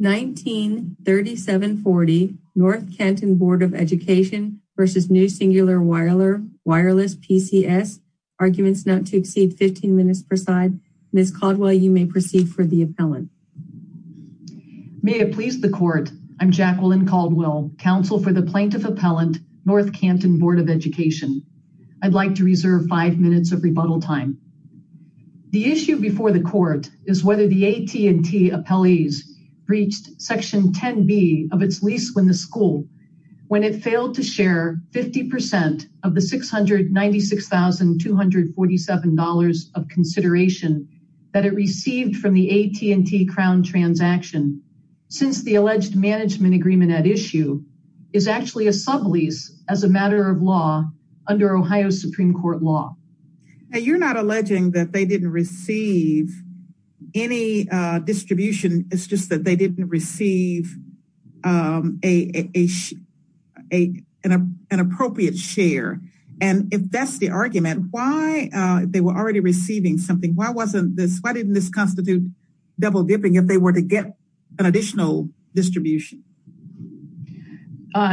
19.37.40 North Canton Board of Education v. New Singular Wireless PCS Arguments not to exceed 15 minutes per side. Ms. Caldwell, you may proceed for the appellant. May it please the court, I'm Jacqueline Caldwell, counsel for the plaintiff appellant, North Canton Board of Education. I'd like to reserve five minutes of rebuttal time. The issue before the court is whether the AT&T appellees breached section 10b of its lease when the school when it failed to share 50% of the $696,247 of consideration that it received from the AT&T crown transaction since the alleged management agreement at issue is actually a sublease as a matter of law under Ohio Supreme Court law. You're not alleging that they didn't receive any distribution, it's just that they didn't receive an appropriate share. And if that's the argument, why they were already receiving something? Why wasn't this, why didn't this constitute double dipping if they were to get an additional distribution?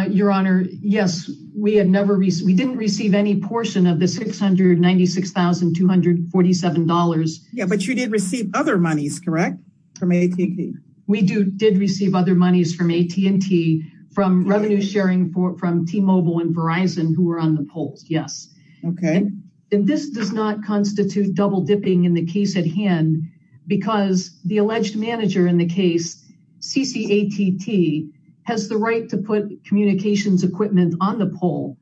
Your Honor, yes, we didn't receive any portion of the $696,247. Yeah, but you did receive other monies, correct, from AT&T? We did receive other monies from AT&T from revenue sharing from T-Mobile and Verizon who were on the polls, yes. Okay. And this does not constitute double dipping in the case at hand because the alleged manager in the case, CCATT, has the right to put communications equipment on the poll.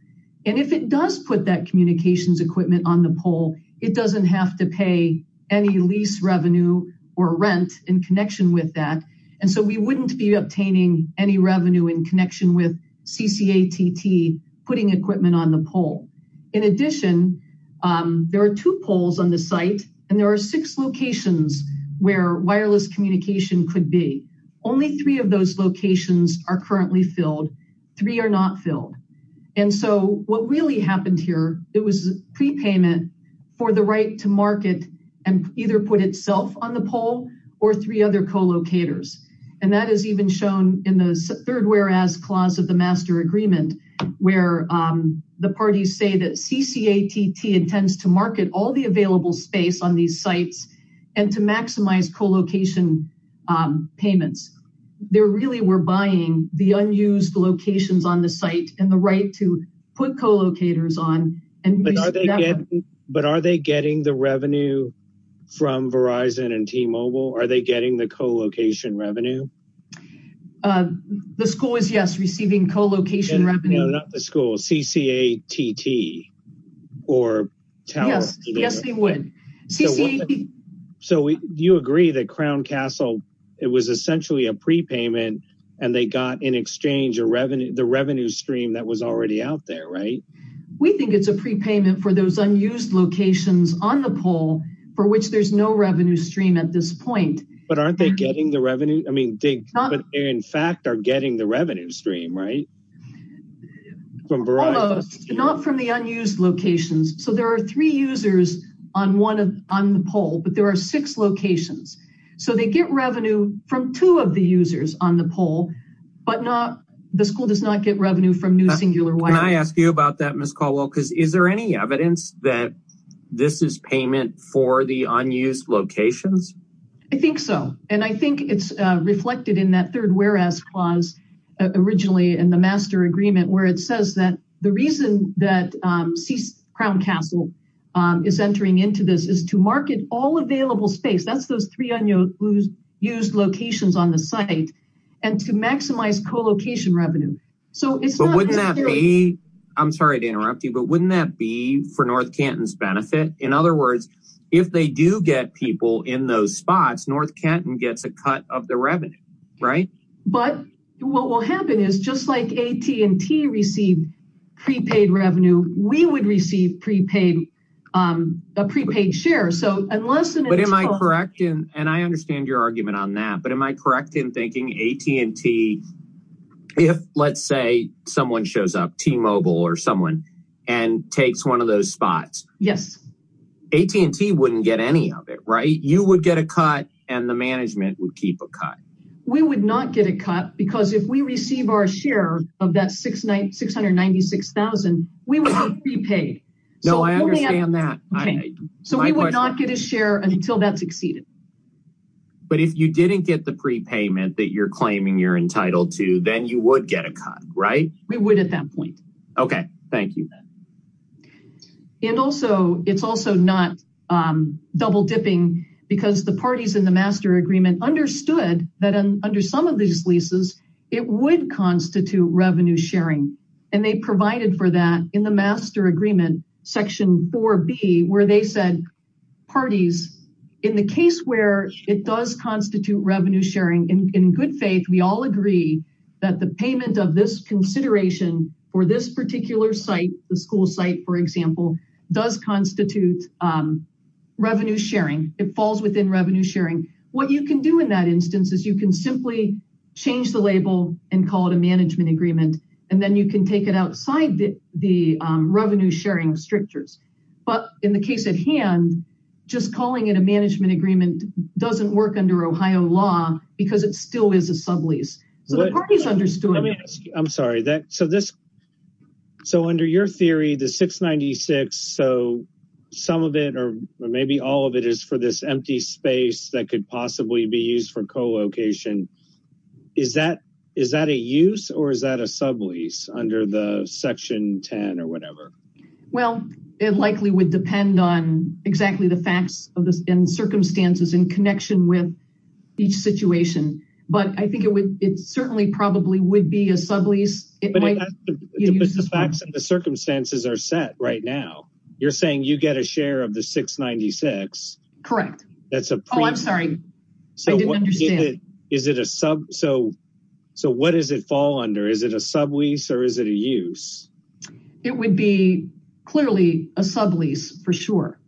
And if it does put that communications equipment on the poll, it doesn't have to pay any lease revenue or rent in connection with that. And so we wouldn't be obtaining any revenue in connection with CCATT putting equipment on the poll. In addition, there are two polls on the site and there are six locations where wireless communication could be. Only three of And so what really happened here, it was prepayment for the right to market and either put itself on the poll or three other co-locators. And that is even shown in the third whereas clause of the master agreement where the parties say that CCATT intends to market all the available space on these sites and to maximize co-location payments. They really were buying the unused locations on the site and the right to put co-locators on. But are they getting the revenue from Verizon and T-Mobile? Are they getting the co-location revenue? The school is, yes, receiving co-location revenue. No, not the school, CCATT. Yes, yes they would. So you agree that Crown Castle, it was essentially a prepayment and they got in exchange the revenue stream that was already out there, right? We think it's a prepayment for those unused locations on the poll for which there's no revenue stream at this point. But aren't they getting the revenue? I mean, they in fact are getting the revenue stream, right? Almost, not from the unused locations. So there are three users on the poll, but there are six locations. So they get revenue from two of the users on the poll, but the school does not get revenue from New Singular Wide. Can I ask you about that, Ms. Caldwell? Because is there any evidence that this is payment for the unused locations? I think so. And I think it's reflected in that third whereas clause originally in the master agreement where it says that the reason that Crown Castle is entering into this is to market all available space. That's those three unused locations on the site and to maximize co-location revenue. I'm sorry to interrupt you, but wouldn't that be for North Canton's benefit? In other words, if they do get people in those spots, North Canton gets a cut of the revenue. But what will happen is just like AT&T received prepaid revenue, we would receive a prepaid share. And I understand your argument on that, but am I correct in thinking AT&T, if let's say someone shows up, T-Mobile or someone, and takes one of those spots, AT&T wouldn't get any of it, right? You would get a cut and the management would keep a cut. We would not get a cut because if we receive our share of that $696,000, we would get prepaid. No, I understand that. So we would not get a share until that's exceeded. But if you didn't get the prepayment that you're claiming you're entitled to, then you would get a cut, right? We would at that point. Okay, thank you. And also, it's also not double dipping because the parties in the master agreement understood that under some of these leases, it would constitute revenue sharing. And they provided for that in the master agreement, section 4B, where they said, parties, in the case where it does constitute revenue sharing, in good faith, we all agree that the payment of this consideration for this particular site, the school site, for example, does constitute revenue sharing. It falls within revenue sharing. What you can do in that instance is you can simply change the label and call it a management agreement. And then you can take it outside the revenue sharing strictures. But in the case at hand, just calling it a management agreement doesn't work under Ohio law because it still is a sublease. So the parties understood that. Let me ask you, I'm sorry. So under your theory, the 696, so some of it or maybe all of it is for this empty space that could possibly be used for co-location. Is that a use or is that a sublease under the section 10 or whatever? Well, it likely would depend on exactly the facts and circumstances in connection with each situation. But I think it would, it certainly probably would be a sublease. But the facts and the circumstances are set right now. You're saying you get a share of the 696. Correct. That's a pre- Oh, I'm sorry. I didn't understand. Is it a sub, so what does it fall under? Is it a sublease or is it a use? It would be clearly a sublease for sure.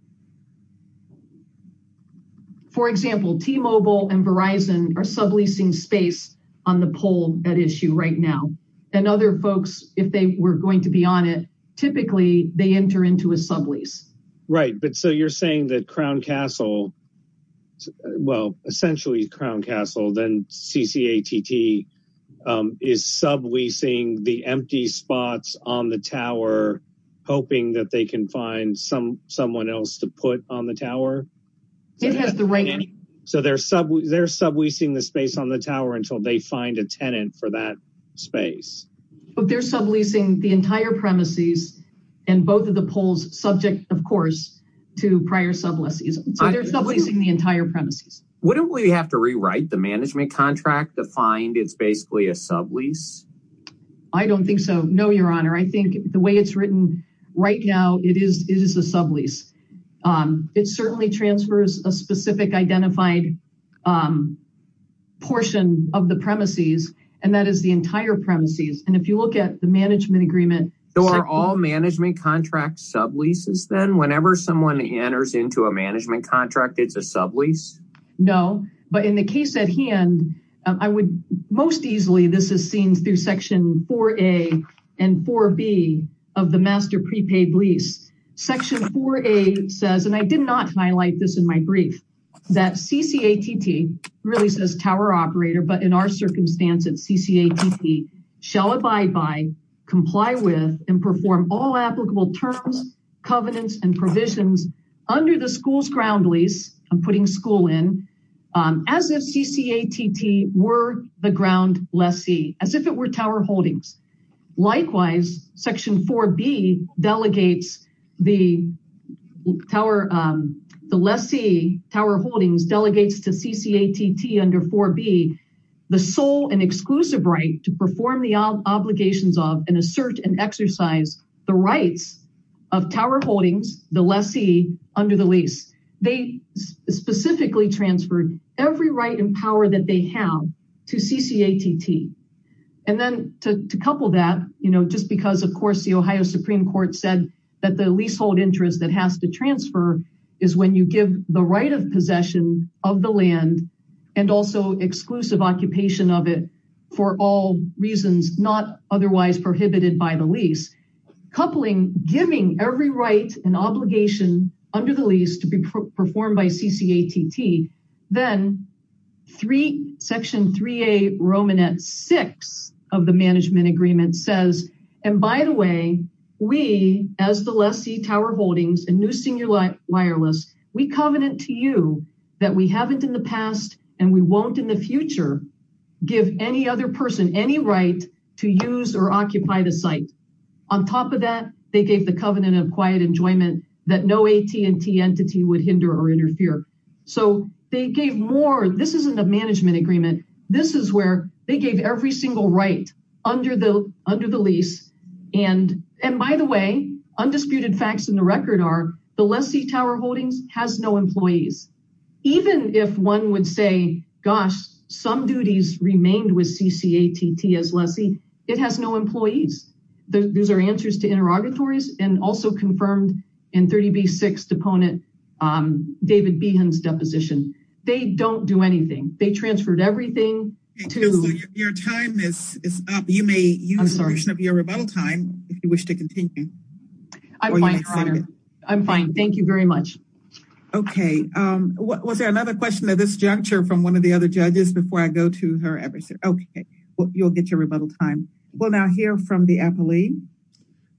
For example, T-Mobile and Verizon are subleasing space on the pole at issue right now. And other folks, if they were going to be on it, typically they enter into a sublease. Right. But so you're saying that Crown Castle, well, essentially Crown Castle, then CCATT is subleasing the empty spots on the tower, hoping that they can find some, someone else to put on the tower? It has the right- So they're subleasing the space on the tower until they find a tenant for that space. But they're subleasing the entire premises and both of the poles subject, of course, to prior subleases. So they're subleasing the entire premises. Wouldn't we have to rewrite the management contract to find it's basically a sublease? I don't think so. No, your honor. I think the way it's written right now, it is a sublease. It certainly transfers a specific identified portion of the premises and that is the entire premises. And if you look at the management agreement- So are all management contracts subleases then? Whenever someone enters into a management contract, it's a sublease? No, but in the case at hand, I would most easily, this is seen through section 4A and 4B of the master prepaid lease. Section 4A says, and I did not highlight this in my brief, that CCATT really says tower operator, but in our circumstance, it's CCATT, shall abide by, comply with, and perform all applicable terms, covenants, and provisions under the school's ground lease, I'm putting school in, as if CCATT were the ground lessee, as if it were tower holdings. Likewise, section 4B delegates the lessee, tower holdings, delegates to CCATT under 4B, the sole and exclusive right to perform the obligations of, assert, and exercise the rights of tower holdings, the lessee, under the lease. They specifically transferred every right and power that they have to CCATT. And then to couple that, you know, just because, of course, the Ohio Supreme Court said that the leasehold interest that has to transfer is when you give the right of possession of the land and also exclusive occupation of it for all reasons not otherwise prohibited by the lease, coupling, giving every right and obligation under the lease to be performed by CCATT, then section 3A Romanette 6 of the management agreement says, and by the way, we, as the lessee, tower holdings, and new senior wireless, we covenant to you that we haven't in the past and we won't in the future give any other person any right to use or occupy the site. On top of that, they gave the covenant of quiet enjoyment that no AT&T entity would hinder or interfere. So they gave more, this isn't a management agreement, this is where they gave every single right under the lease, and by the way, undisputed facts in the record are the lessee tower holdings has no employees. Even if one would say, gosh, some duties remained with CCATT as lessee, it has no employees. Those are answers to interrogatories and also confirmed in 30B 6 deponent David Behan's deposition. They don't do anything. They transferred everything. Your time is up. You may use the time if you wish to continue. I'm fine. I'm fine. Thank you very much. Okay. Was there another question at this juncture from one of the other judges before I go to her? Okay, well, you'll get your rebuttal time. We'll now hear from the appellee.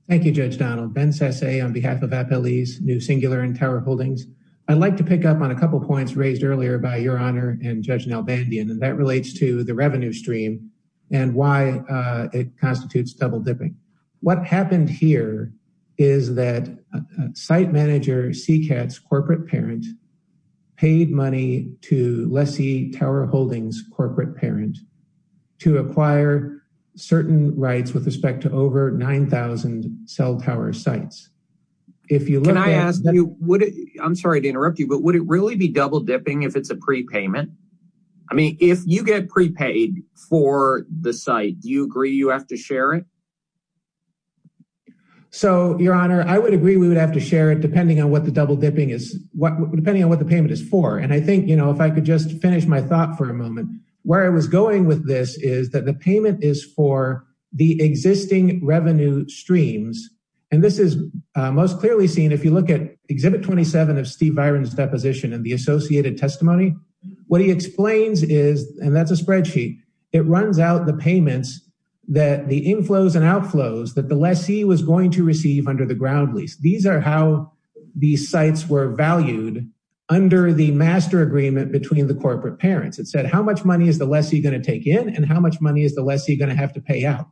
Thank you, Judge Donald. Ben Sasse on behalf of Appellee's New Singular and Tower Holdings. I'd like to pick up on a couple points raised earlier by Your Honor and Judge Nalbandian, and that relates to the revenue stream and why it constitutes double dipping. What happened here is that site manager CCATT's corporate parent paid money to lessee tower holdings corporate parent to acquire certain rights with respect to over 9,000 cell tower sites. Can I ask you, I'm sorry to interrupt you, but would it really be double dipping if it's a prepayment? I mean, if you get prepaid for the site, do you agree you have to share it? So, Your Honor, I would agree we would have to share it depending on what the double dipping is, depending on what the payment is for. And I think, you know, if I could just finish my thought for a moment, where I was going with this is that the payment is for the existing revenue streams. And this is most clearly seen if you look at Exhibit 27 of Steve Byron's deposition and the associated testimony. What he explains is, and that's a spreadsheet, it runs out the payments that the inflows and outflows that the lessee was going to receive under the ground lease. These are how these sites were valued under the master agreement between the corporate parents. It said how much money is the lessee going to take in and how much money is the lessee going to have to pay out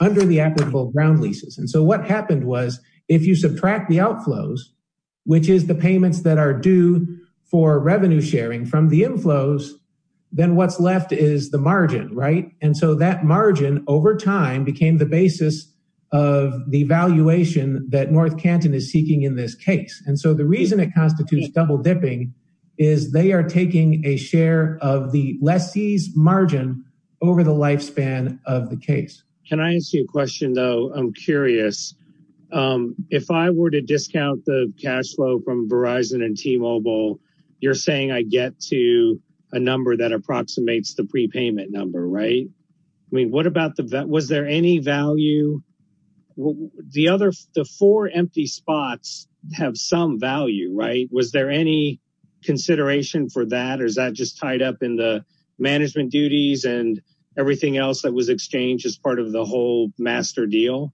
under the applicable ground leases. And so what happened was if you subtract the outflows, which is the payments that are due for revenue sharing from the inflows, then what's left is the margin, right? And so that margin over time became the basis of the valuation that North Canton is seeking in this case. And so the reason it constitutes double dipping is they are taking a share of the lessee's margin over the lifespan of the case. Can I ask you a question, though? I'm curious. If I were to discount the cash flow from Verizon and T-Mobile, you're saying I get to a number that approximates the prepayment number, right? I mean, what about that? Was there any value? The four empty spots have some value, right? Was there any consideration for that? Or is that just tied up in the management duties and everything else that was exchanged as part of the whole master deal?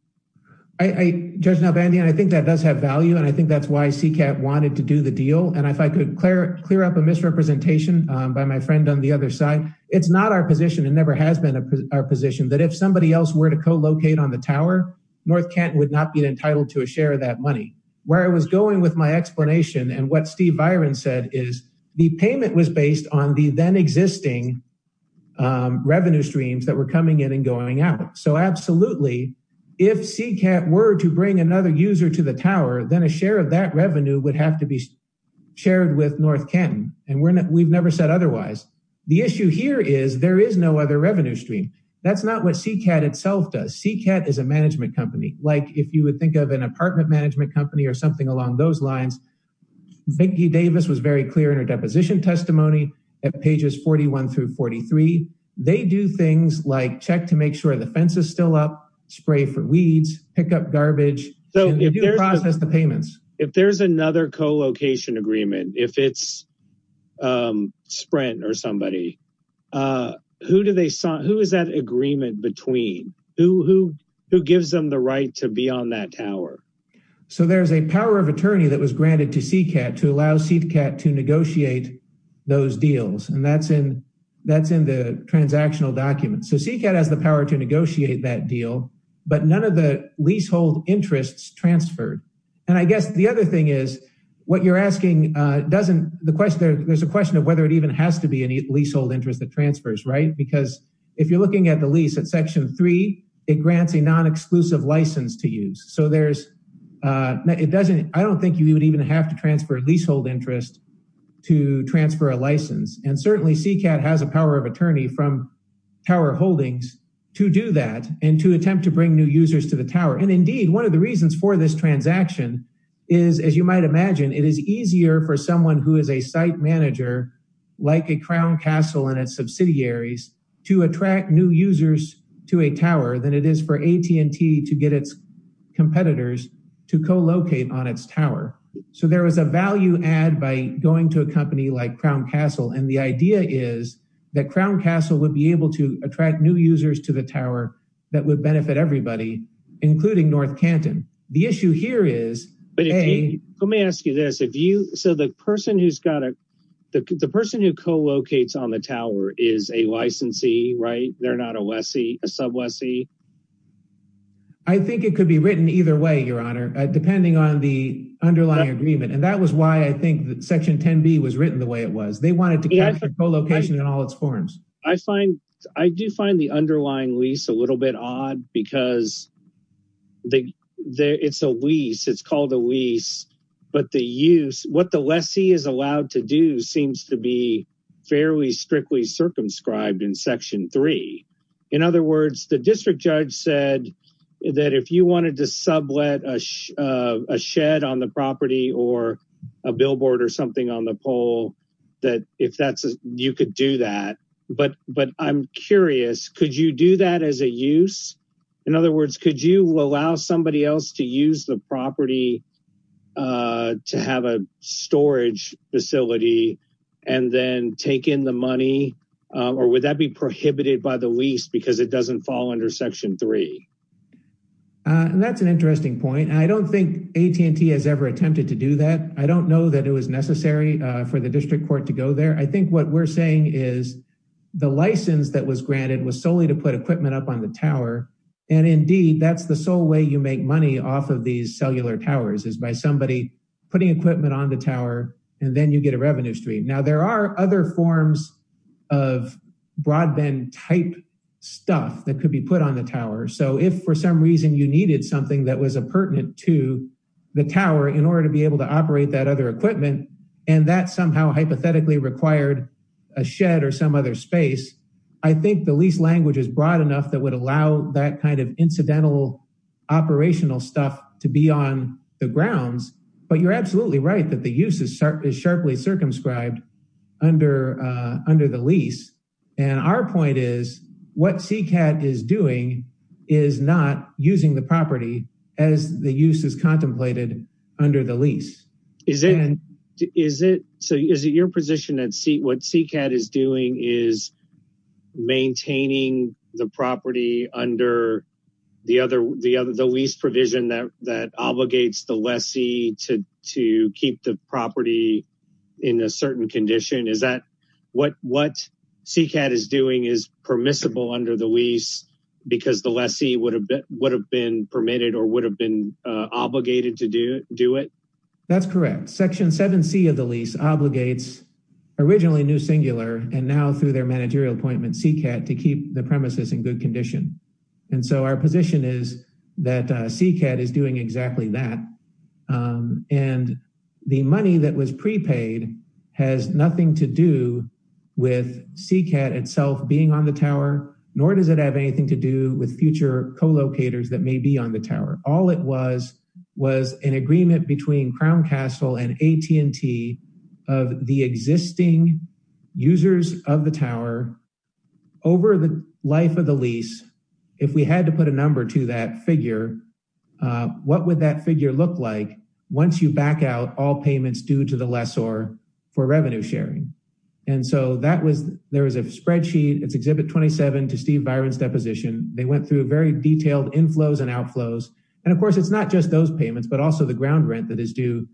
I, Judge Nalbandian, I think that does have value. And I think that's why CCAT wanted to do the deal. And if I could clear up a misrepresentation by my friend on the other side, it's not our position and never has been our position that if somebody else were to co-locate on the tower, North Canton would not be entitled to a share of that money. Where I was going with my explanation and what Steve Byron said is the payment was based on the then existing revenue streams that were going in and going out. So absolutely, if CCAT were to bring another user to the tower, then a share of that revenue would have to be shared with North Canton. And we've never said otherwise. The issue here is there is no other revenue stream. That's not what CCAT itself does. CCAT is a management company. Like if you would think of an apartment management company or something along those lines, Vicki Davis was very clear in her deposition testimony at pages 41 through 43. They do things like check to make sure the fence is still up, spray for weeds, pick up garbage, process the payments. If there's another co-location agreement, if it's Sprint or somebody, who is that agreement between? Who gives them the right to be on that tower? So there's a power of attorney that was granted to CCAT to allow CCAT to negotiate those deals. And that's in the transactional documents. So CCAT has the power to negotiate that deal, but none of the leasehold interests transferred. And I guess the other thing is, there's a question of whether it even has to be a leasehold interest that transfers, right? Because if you're looking at the lease at Section 3, it grants a non-exclusive license to use. There's, I don't think you would even have to transfer a leasehold interest to transfer a license. And certainly CCAT has a power of attorney from Tower Holdings to do that and to attempt to bring new users to the tower. And indeed, one of the reasons for this transaction is, as you might imagine, it is easier for someone who is a site manager, like a Crown Castle and its subsidiaries, to attract new users to a tower than it is for AT&T to get its competitors to co-locate on its tower. So there is a value add by going to a company like Crown Castle. And the idea is that Crown Castle would be able to attract new users to the tower that would benefit everybody, including North Canton. The issue here is, Let me ask you this. So the person who co-locates on the tower is a licensee, right? They're not a sub-lessee. I think it could be written either way, Your Honor, depending on the underlying agreement. And that was why I think that Section 10b was written the way it was. They wanted to capture co-location in all its forms. I find, I do find the underlying lease a little bit odd because it's a lease, it's called a lease, but the use, what the lessee is allowed to do seems to be fairly strictly circumscribed in Section 3. In other words, the district judge said that if you wanted to sublet a shed on the property or a billboard or something on the pole, that if that's, you could do that. But I'm curious, could you do that as a use? In other words, could you allow somebody else to use the property to have a storage facility and then take in the money? Or would that be prohibited by the lease because it doesn't fall under Section 3? That's an interesting point. I don't think AT&T has ever attempted to do that. I don't know that it was necessary for the district court to go there. I think what we're saying is the license that was granted was solely to put equipment up on the tower, and indeed, that's the sole way you make money off of these cellular towers is by somebody putting equipment on the tower and then you get a revenue stream. Now, there are other forms of broadband type stuff that could be put on the tower, so if for some reason you needed something that was a pertinent to the tower in order to be able to operate that other equipment and that somehow hypothetically required a shed or some other space, I think the lease language is broad enough that would allow that kind of incidental operational stuff to be on the grounds. But you're absolutely right that the use is sharply circumscribed under the lease. And our point is what CCAT is doing is not using the property as the use is contemplated under the lease. So is it your position that what CCAT is doing is maintaining the property under the lease provision that obligates the lessee to keep the property in a certain condition? Is that what CCAT is doing is permissible under the lease because the lessee would have been permitted or would have been obligated to do it? That's correct. Section 7c of the lease obligates originally New Singular and now through their managerial appointment CCAT to keep the premises in good condition. And so our position is that CCAT is doing exactly that. And the money that was prepaid has nothing to do with CCAT itself being on the tower, nor does it have anything to do with future co-locators that may be on the tower. All it was was an agreement between Crown Castle and AT&T of the existing users of the tower over the life of the lease. If we had to put a number to that figure, what would that figure look like once you back out all payments due to the lessor for revenue sharing? And so there was a spreadsheet. It's Exhibit 27 to Steve Byron's deposition. They went through very detailed inflows and outflows. And of course it's not those payments, but also the ground rent that is due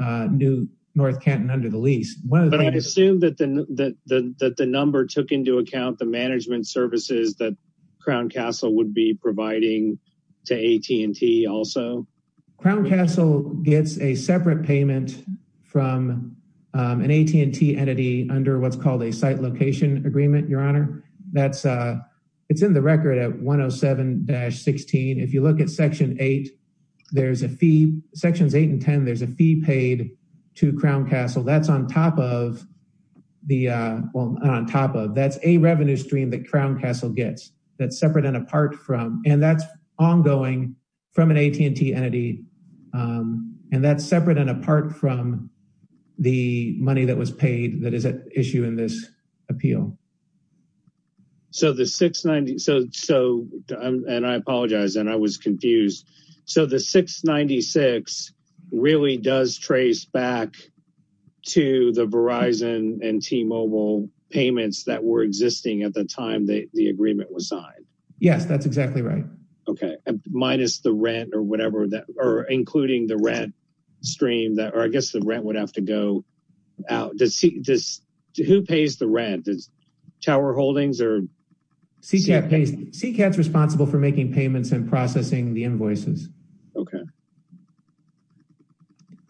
New North Canton under the lease. But I assume that the number took into account the management services that Crown Castle would be providing to AT&T also? Crown Castle gets a separate payment from an AT&T entity under what's called a site location agreement, your honor. That's in the record at 107-16. If you look at Sections 8 and 10, there's a fee paid to Crown Castle. That's a revenue stream that Crown Castle gets that's separate and apart from, and that's ongoing from an AT&T entity, and that's separate and apart from the money that was paid that is at issue in this appeal. So the 696, and I apologize, and I was confused. So the 696 really does trace back to the Verizon and T-Mobile payments that were existing at the time the agreement was signed? Yes, that's exactly right. Minus the rent or whatever, or including the rent stream, or I guess the rent would have to go out. Who pays the rent? Tower Holdings? CCAT's responsible for making payments and processing the invoices.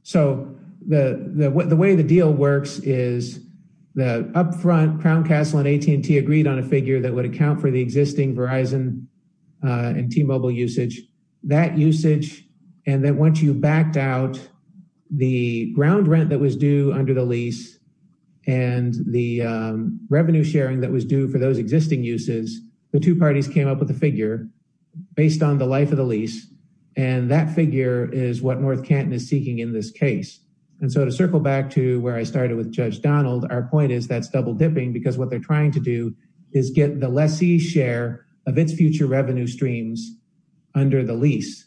So the way the deal works is the up front, Crown Castle and AT&T agreed on a figure that would account for the existing Verizon and T-Mobile usage. That usage, and then once you backed out the ground rent that was due under the lease and the revenue sharing that was due for those existing uses, the two parties came up with a figure based on the life of the lease, and that figure is what North Canton is seeking in this case. And so to circle back to where I started with Judge Donald, our point is that's double dipping because what they're trying to do is get the lessee's share of its future revenue streams under the lease,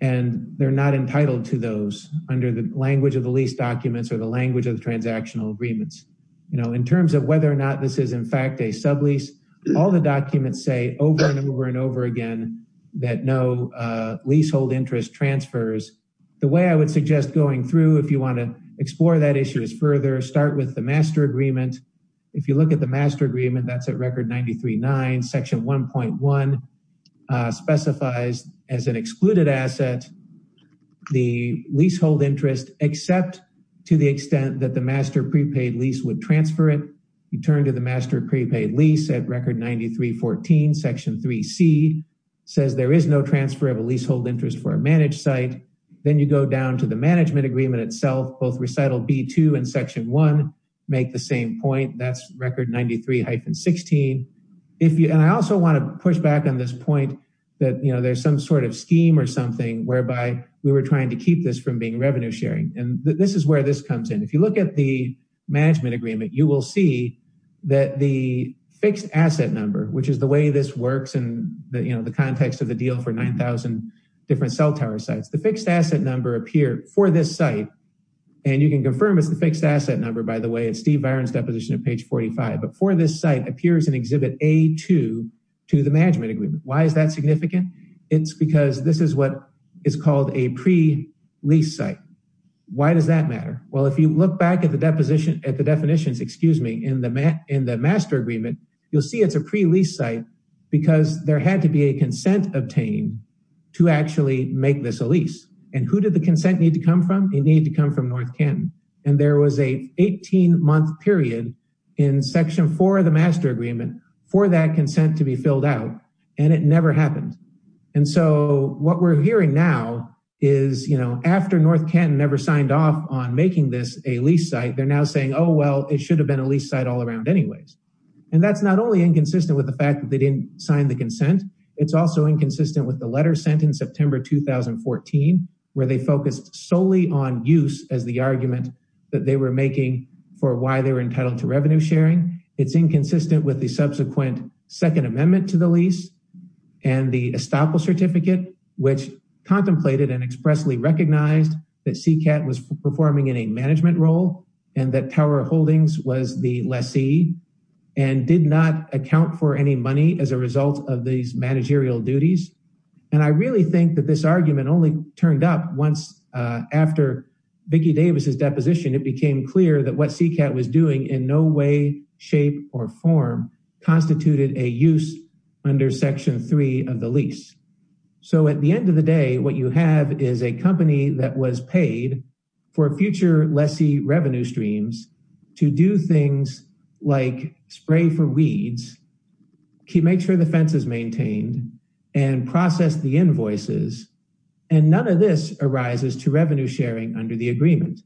and they're not entitled to those under the language of the lease documents or the language of the transactional agreements. In terms of whether or not this is in fact a sublease, all the documents say over and over and over again that no leasehold interest transfers. The way I would suggest going through if you want to explore that issue is further start with the master agreement. If you look at the master agreement that's at record 93.9, section 1.1 specifies as an excluded asset the leasehold interest except to the extent that the master prepaid lease would transfer it. You turn to the master prepaid lease at record 93.14, section 3c says there is no transfer of a leasehold interest for a managed site. Then you go down to the management agreement itself, both recital b2 and section 1 make the same point, that's record 93-16. I also want to push back on this point that there's some sort of scheme or something whereby we were trying to keep this from being revenue sharing, and this is where this comes in. If you look at the management agreement, you will see that the fixed asset number, which is the way this works in the context of the deal for 9,000 different cell tower sites, the fixed asset number for this site, and you can confirm it's the fixed asset number by the way, it's Steve Viren's deposition at page 45, but for this site appears in exhibit a2 to the management agreement. Why is that significant? It's because this is what is called a pre-lease site. Why does that matter? Well, if you look back at the definitions in the master agreement, you'll see it's a pre-lease site because there had to be a consent obtained to actually make this a lease, and who did the consent need to come from? It needed to come from North Canton, and there was a 18-month period in section 4 of the master agreement for that consent to be filled out, and it never happened, and so what we're hearing now is, you know, after North Canton never signed off on making this a lease site, they're now saying, oh well, it should have been a lease site all around anyways, and that's not only inconsistent with the fact that they didn't sign the consent, it's also inconsistent with the letter sent in September 2014, where they focused solely on use as the argument that they were making for why they were entitled to revenue sharing. It's inconsistent with the subsequent second amendment to the lease, and the estoppel certificate, which contemplated and expressly recognized that CCAT was performing in a management role, and that Tower Holdings was the lessee, and did not account for any money as a result of these managerial duties, and I really think that this argument only turned up once after Vicki Davis's deposition. It became clear that what CCAT was doing in no way, shape, or form constituted a use under section 3 of the lease, so at the end of the day, what you have is a company that was paid for future lessee revenue streams to do things like spray for weeds, make sure the fence is maintained, and process the invoices, and none of this arises to revenue sharing under the agreement.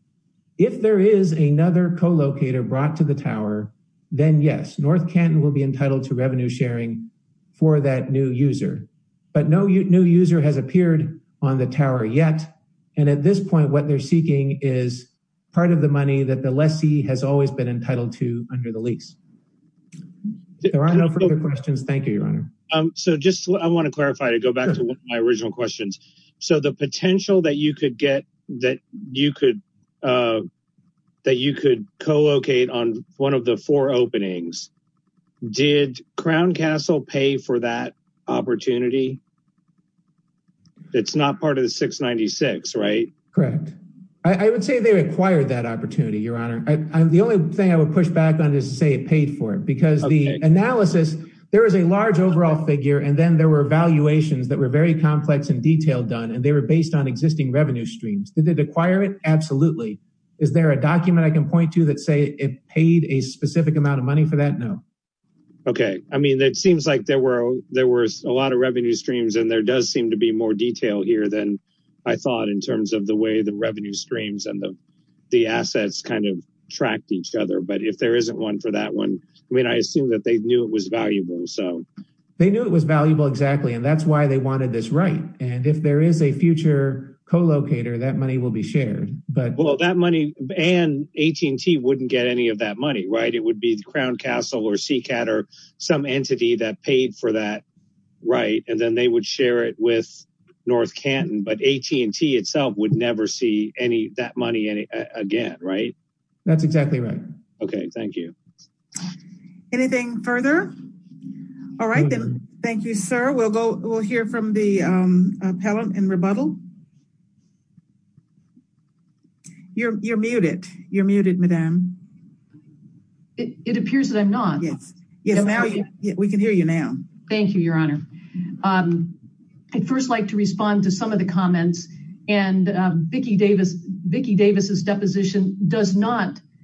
If there is another co-locator brought to the Tower, then yes, North Canton will be entitled to revenue sharing for that new user, but no new user has appeared on the Tower yet, and at this point, what they're seeking is part of the lease. There are no further questions. Thank you, Your Honor. So just I want to clarify to go back to my original questions. So the potential that you could get, that you could co-locate on one of the four openings, did Crown Castle pay for that opportunity? It's not part of the 696, right? Correct. I would say they acquired that opportunity, Your Honor. The only thing I would push back on is to say it paid for it, because the analysis, there is a large overall figure, and then there were valuations that were very complex and detailed done, and they were based on existing revenue streams. Did they acquire it? Absolutely. Is there a document I can point to that say it paid a specific amount of money for that? No. Okay. I mean, it seems like there were a lot of revenue streams, and there does seem to be more detail here than I thought in terms of the way each other, but if there isn't one for that one, I mean, I assume that they knew it was valuable. They knew it was valuable, exactly, and that's why they wanted this right, and if there is a future co-locator, that money will be shared. Well, that money and AT&T wouldn't get any of that money, right? It would be the Crown Castle or CCAT or some entity that paid for that right, and then they would share it with North Canton, but AT&T itself would never see that money again, right? That's exactly right. Okay. Thank you. Anything further? All right, then. Thank you, sir. We'll hear from the appellant in rebuttal. You're muted. You're muted, Madam. It appears that I'm not. Yes, we can hear you now. Thank you, Your Honor. I'd first like to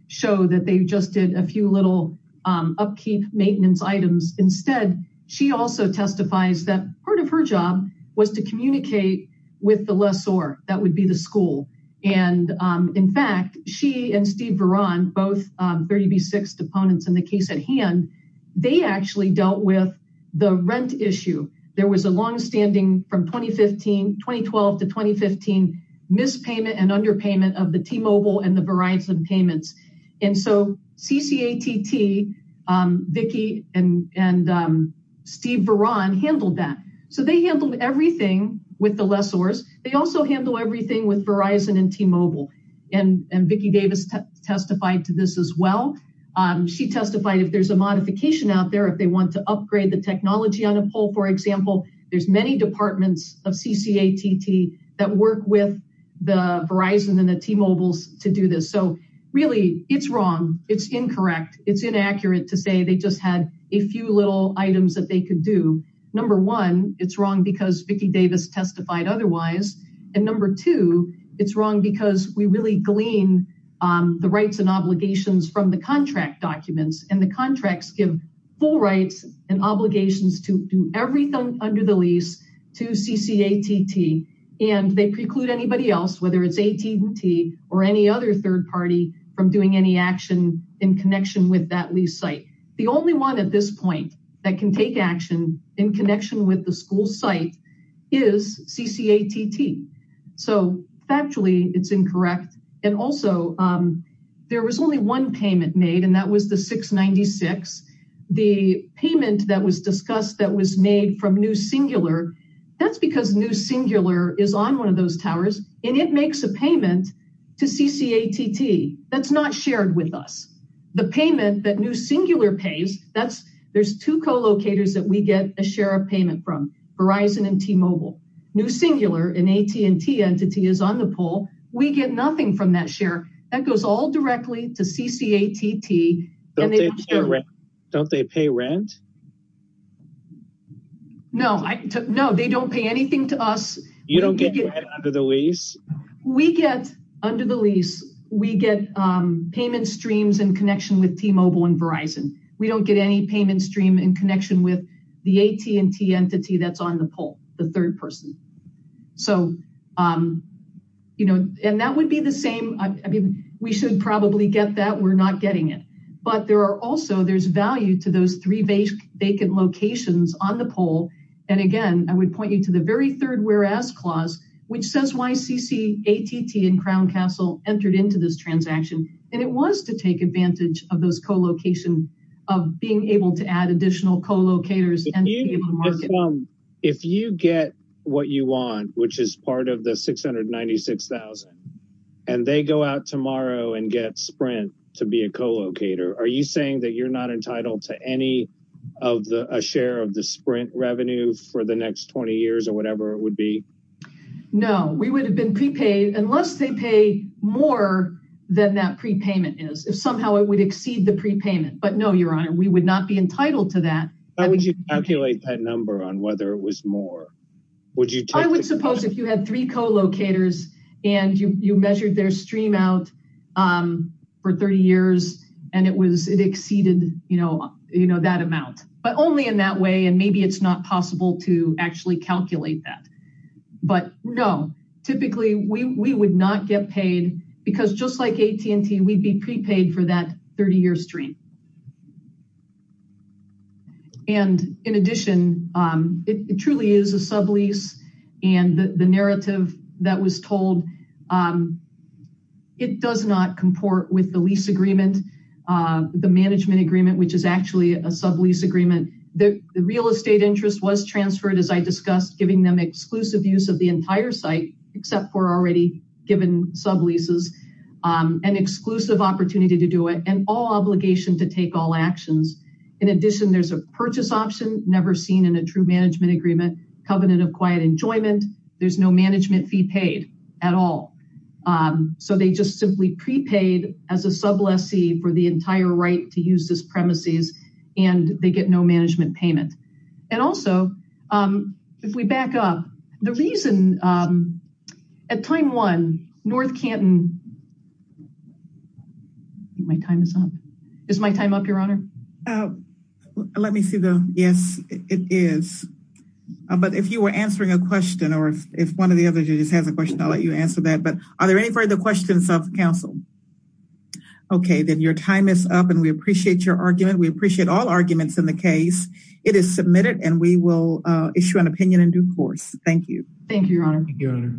show that they just did a few little upkeep maintenance items. Instead, she also testifies that part of her job was to communicate with the lessor. That would be the school, and in fact, she and Steve Veron, both 30B6 deponents in the case at hand, they actually dealt with the rent issue. There was a long-standing, from 2012 to 2015, mispayment and underpayment of the T-Mobile and the Verizon payments, and so CCATT, Vicki and Steve Veron handled that, so they handled everything with the lessors. They also handle everything with Verizon and T-Mobile, and Vicki Davis testified to this as well. She testified if there's a modification out there, if they want to upgrade the technology on a pole, for example, there's many departments of CCATT that work with Verizon and T-Mobile to do this. Really, it's wrong. It's incorrect. It's inaccurate to say they just had a few little items that they could do. Number one, it's wrong because Vicki Davis testified otherwise, and number two, it's wrong because we really glean the rights and obligations from the contract documents, and the contracts give full rights and obligations to do everything under the lease to CCATT, and they preclude anybody else, whether it's AT&T or any other third party, from doing any action in connection with that lease site. The only one at this point that can take action in connection with the school site is CCATT, so factually, it's incorrect, and also, there was only one payment made, and that was the 696. The payment that was discussed that was made from New Singular, that's because New Singular is on one of those towers, and it makes a payment to CCATT. That's not shared with us. The payment that New Singular pays, there's two co-locators that we get a share of payment from, Verizon and T-Mobile. New Singular, an AT&T entity, is on the pole. We get nothing from that share. That goes all directly to CCATT, and they don't pay rent? No, they don't pay anything to us. You don't get rent under the lease? We get, under the lease, we get payment streams in connection with T-Mobile and Verizon. We don't get any payment stream in connection with the AT&T entity that's on the pole, the third person, and that would be the same. I mean, we should probably get that. We're not getting it, but there's value to those three vacant locations on the pole. Again, I would point you to the very third whereas clause, which says why CCATT and Crown Castle entered into this transaction, and it was to take advantage of those co-locations, of being able to add additional co-locators. If you get what you want, which is part of the 696,000, and they go out tomorrow and get Sprint to be a co-locator, are you saying that you're not entitled to any of the, a share of the Sprint revenue for the next 20 years or whatever it would be? No, we would have been prepaid unless they pay more than that prepayment is. If somehow it would exceed the prepayment, but no, your honor, we would not be entitled to that. How would you calculate that number on whether it was more? I would suppose if you had three co-locators, and you measured their stream out for 30 years, and it exceeded that amount, but only in that way, and maybe it's not possible to actually calculate that, but no, typically, we would not get paid because just like AT&T, we'd be prepaid for that 30-year stream. And in addition, it truly is a sublease, and the narrative that was told, it does not comport with the lease agreement, the management agreement, which is actually a sublease agreement. The real estate interest was transferred, as I discussed, giving them exclusive use of the entire site, except for already given subleases, an exclusive opportunity to do it, and all obligation to take all actions. In addition, there's a purchase option never seen in a true management agreement, covenant of quiet enjoyment. There's no management fee paid at all. So they just simply prepaid as a sublease for the entire right to use this premises, and they get no management payment. And also, if we back up, the reason at time one, North Canton My time is up. Is my time up, Your Honor? Let me see though. Yes, it is. But if you were answering a question, or if one of the other judges has a question, I'll let you answer that. But are there any further questions of counsel? Okay, then your time is up, and we appreciate your argument. We appreciate all arguments in the case. It is submitted, and we will issue an opinion in due course. Thank you. Thank you, Your Honor.